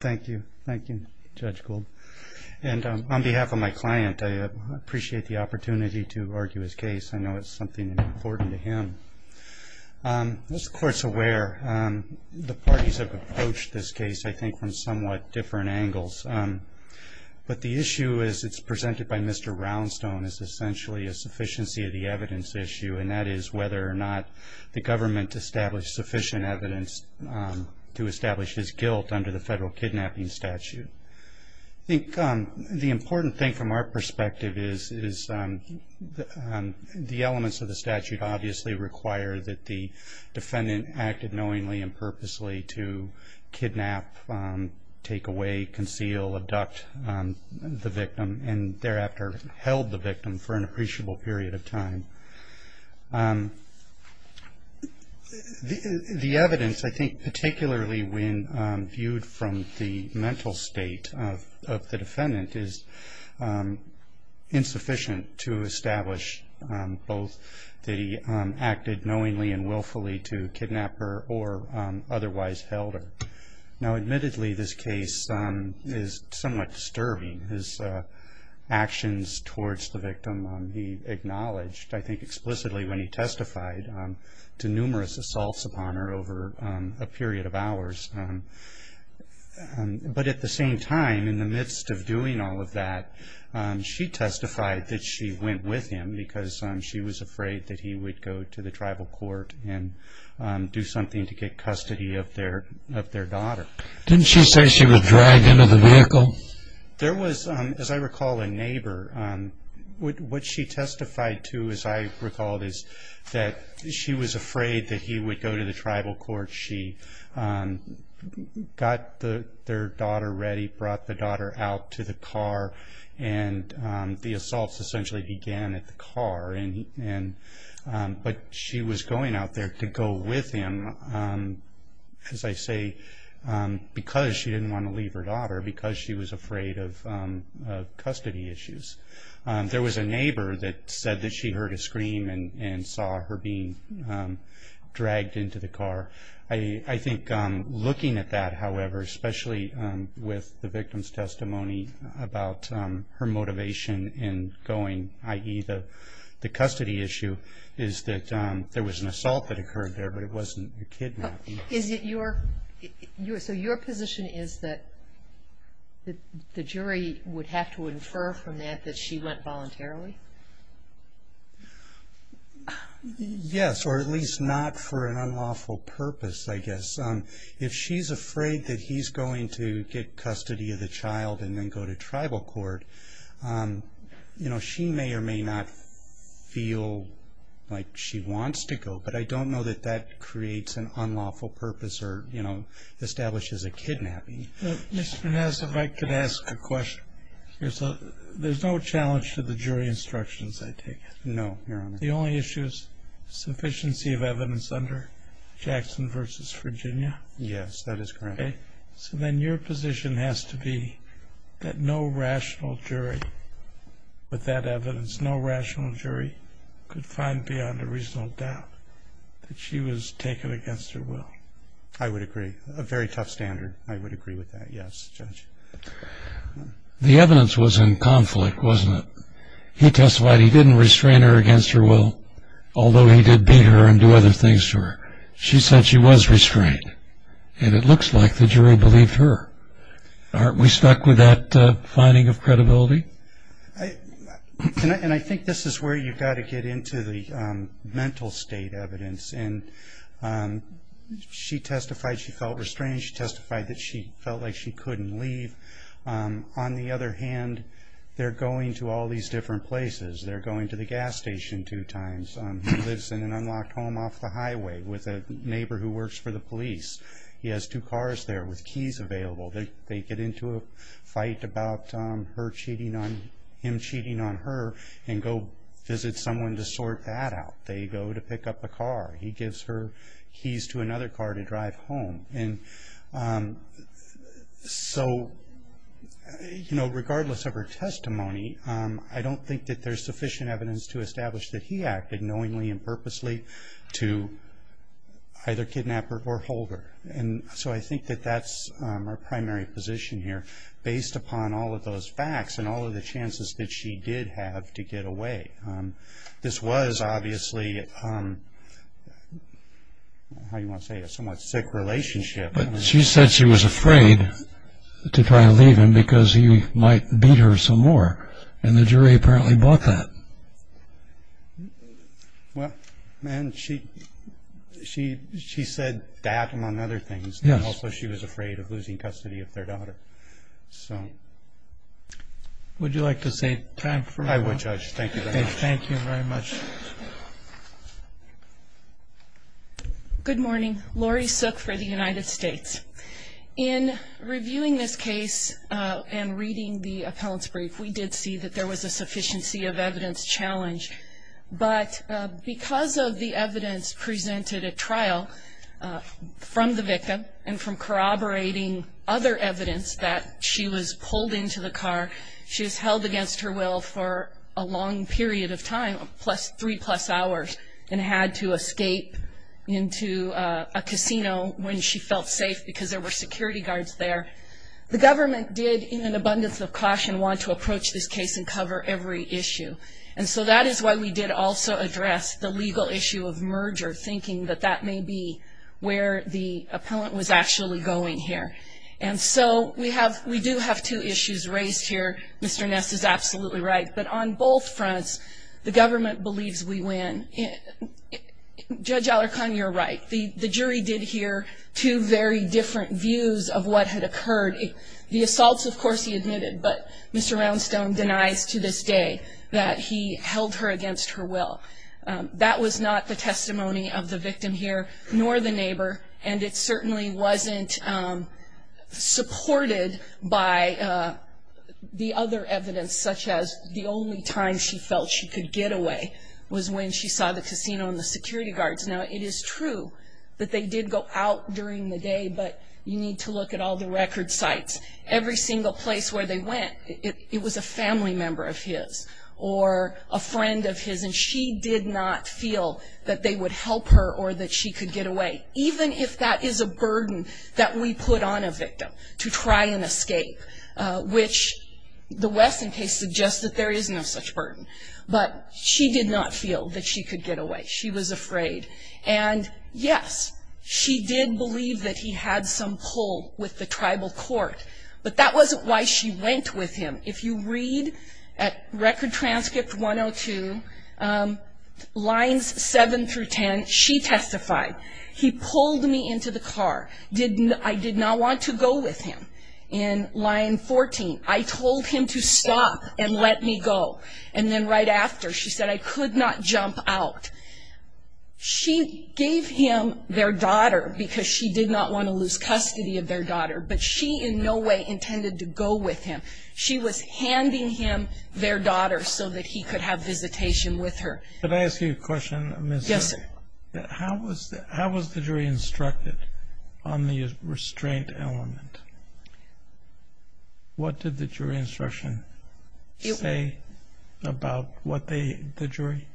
Thank you. Thank you, Judge Gould. And on behalf of my client, I appreciate the opportunity to argue his case. I know it's something important to him. As the Court's aware, the parties have approached this case, I think, from somewhat different angles. But the issue, as it's presented by Mr. Roundstone, is essentially a sufficiency of the evidence issue, and that is whether or not the government established sufficient evidence to establish his guilt under the federal kidnapping statute. I think the important thing from our perspective is the elements of the statute obviously require that the defendant acted knowingly and purposely to kidnap, take away, conceal, abduct the victim, and thereafter held the victim for an appreciable period of time. The evidence, I think, particularly when viewed from the mental state of the defendant, is insufficient to establish both that he acted knowingly and willfully to kidnap her or otherwise held her. Now, admittedly, this case is somewhat disturbing. His actions towards the victim he acknowledged, I think, explicitly when he testified to numerous assaults upon her over a period of hours. But at the same time, in the midst of doing all of that, she testified that she went with him because she was afraid that he would go to the tribal court and do something to get custody of their daughter. Didn't she say she was dragged into the vehicle? There was, as I recall, a neighbor. What she testified to, as I recall, is that she was afraid that he would go to the tribal court. She got their daughter ready, brought the daughter out to the car, and the assaults essentially began at the car. But she was going out there to go with him, as I say, because she didn't want to leave her daughter, because she was afraid of custody issues. There was a neighbor that said that she heard a scream and saw her being dragged into the car. I think looking at that, however, especially with the victim's testimony about her motivation in going, i.e., the custody issue, is that there was an assault that occurred there, but it wasn't a kidnapping. So your position is that the jury would have to infer from that that she went voluntarily? Yes, or at least not for an unlawful purpose, I guess. If she's afraid that he's going to get custody of the child and then go to tribal court, she may or may not feel like she wants to go, but I don't know that that creates an unlawful purpose or establishes a kidnapping. Mr. Ness, if I could ask a question. There's no challenge to the jury instructions, I take it? No, Your Honor. The only issue is sufficiency of evidence under Jackson v. Virginia? Yes, that is correct. Okay. So then your position has to be that no rational jury with that evidence, no rational jury could find beyond a reasonable doubt that she was taken against her will? I would agree. A very tough standard. I would agree with that, yes, Judge. The evidence was in conflict, wasn't it? He testified he didn't restrain her against her will, although he did beat her and do other things to her. She said she was restrained, and it looks like the jury believed her. Aren't we stuck with that finding of credibility? I think this is where you've got to get into the mental state evidence. She testified she felt restrained. She testified that she felt like she couldn't leave. On the other hand, they're going to all these different places. They're going to the gas station two times. He lives in an unlocked home off the highway with a neighbor who works for the police. He has two cars there with keys available. They get into a fight about him cheating on her and go visit someone to sort that out. They go to pick up a car. He gives her keys to another car to drive home. And so, you know, regardless of her testimony, I don't think that there's sufficient evidence to establish that he acted knowingly and purposely to either kidnap her or hold her. And so I think that that's our primary position here based upon all of those facts and all of the chances that she did have to get away. This was obviously, how do you want to say it, a somewhat sick relationship. But she said she was afraid to try to leave him because he might beat her some more. And the jury apparently bought that. Well, man, she said that, among other things. And also she was afraid of losing custody of their daughter. So. Would you like to save time for one? I would, Judge. Thank you very much. Thank you very much. Good morning. Lori Sook for the United States. In reviewing this case and reading the appellant's brief, we did see that there was a sufficiency of evidence challenge. But because of the evidence presented at trial from the victim and from corroborating other evidence that she was pulled into the car, she was held against her will for a long period of time, three-plus hours, and had to escape into a casino when she felt safe because there were security guards there. The government did, in an abundance of caution, want to approach this case and cover every issue. And so that is why we did also address the legal issue of merger, thinking that that may be where the appellant was actually going here. And so we do have two issues raised here. Mr. Ness is absolutely right. But on both fronts, the government believes we win. Judge Alarcon, you're right. The jury did hear two very different views of what had occurred. The assaults, of course, he admitted. But Mr. Roundstone denies to this day that he held her against her will. That was not the testimony of the victim here, nor the neighbor, and it certainly wasn't supported by the other evidence, such as the only time she felt she could get away was when she saw the casino and the security guards. Now, it is true that they did go out during the day, but you need to look at all the record sites. Every single place where they went, it was a family member of his or a friend of his, and she did not feel that they would help her or that she could get away, even if that is a burden that we put on a victim to try and escape, which the Wesson case suggests that there is no such burden. But she did not feel that she could get away. She was afraid. And, yes, she did believe that he had some pull with the tribal court, but that wasn't why she went with him. If you read at Record Transcript 102, lines 7 through 10, she testified, he pulled me into the car. I did not want to go with him. In line 14, I told him to stop and let me go. And then right after, she said, I could not jump out. She gave him their daughter because she did not want to lose custody of their daughter, but she in no way intended to go with him. She was handing him their daughter so that he could have visitation with her. Could I ask you a question? Yes, sir. How was the jury instructed on the restraint element? What did the jury instruction say about what the jury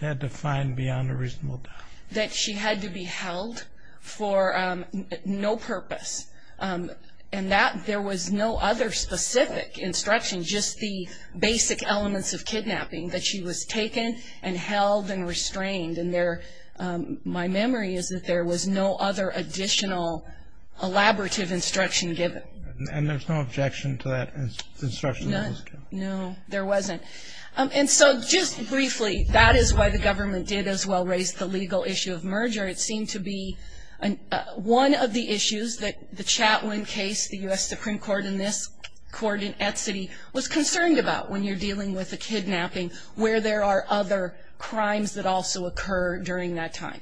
had to find beyond a reasonable doubt? That she had to be held for no purpose. And that there was no other specific instruction, just the basic elements of kidnapping, that she was taken and held and restrained. My memory is that there was no other additional elaborative instruction given. And there's no objection to that instruction? No, there wasn't. And so just briefly, that is why the government did as well raise the legal issue of merger. It seemed to be one of the issues that the Chatwin case, the U.S. Supreme Court, and this court in Etcity was concerned about when you're dealing with a kidnapping, where there are other crimes that also occur during that time.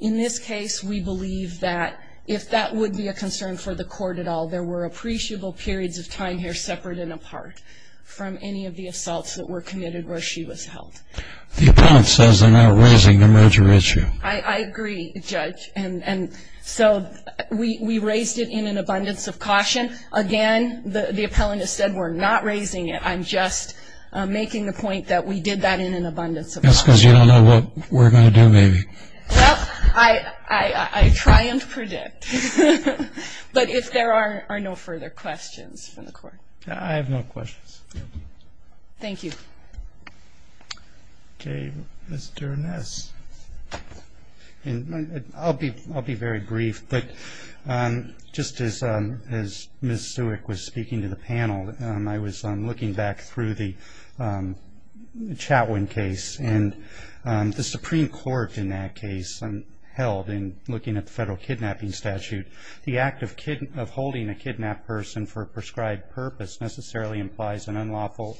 In this case, we believe that if that would be a concern for the court at all, there were appreciable periods of time here separate and apart from any of the assaults that were committed where she was held. The appellant says they're not raising the merger issue. I agree, Judge. And so we raised it in an abundance of caution. Again, the appellant has said we're not raising it. I'm just making the point that we did that in an abundance of caution. That's because you don't know what we're going to do, maybe. Well, I try and predict. But if there are no further questions from the court. I have no questions. Thank you. Okay, Mr. Ness. I'll be very brief. Just as Ms. Sewick was speaking to the panel, I was looking back through the Chatwin case. And the Supreme Court in that case held, in looking at the federal kidnapping statute, the act of holding a kidnapped person for a prescribed purpose necessarily implies an unlawful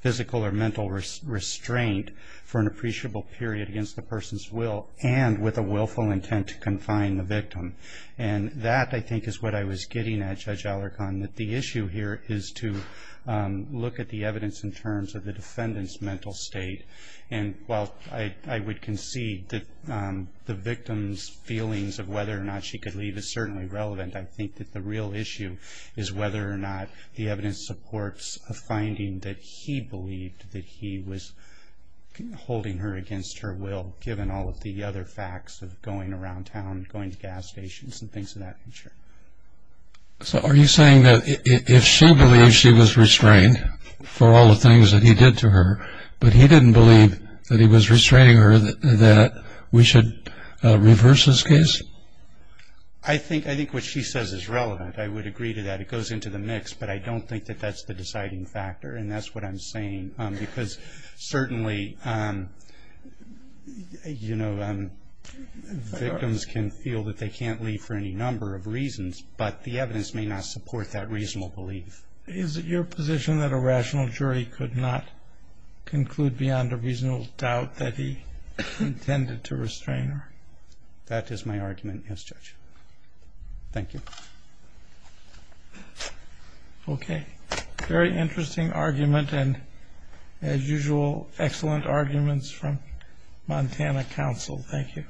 physical or mental restraint for an appreciable period against the person's will and with a willful intent to confine the victim. And that, I think, is what I was getting at, Judge Alarcon, that the issue here is to look at the evidence in terms of the defendant's mental state. And while I would concede that the victim's feelings of whether or not she could leave is certainly relevant, I think that the real issue is whether or not the evidence supports a finding that he believed that he was holding her against her will, given all of the other facts of going around town and going to gas stations and things of that nature. So are you saying that if she believed she was restrained for all the things that he did to her, but he didn't believe that he was restraining her, that we should reverse this case? I think what she says is relevant. I would agree to that. It goes into the mix, but I don't think that that's the deciding factor, and that's what I'm saying. Because certainly, you know, victims can feel that they can't leave for any number of reasons, but the evidence may not support that reasonable belief. Is it your position that a rational jury could not conclude beyond a reasonable doubt that he intended to restrain her? That is my argument, yes, Judge. Thank you. Okay. Very interesting argument and, as usual, excellent arguments from Montana Council. Thank you.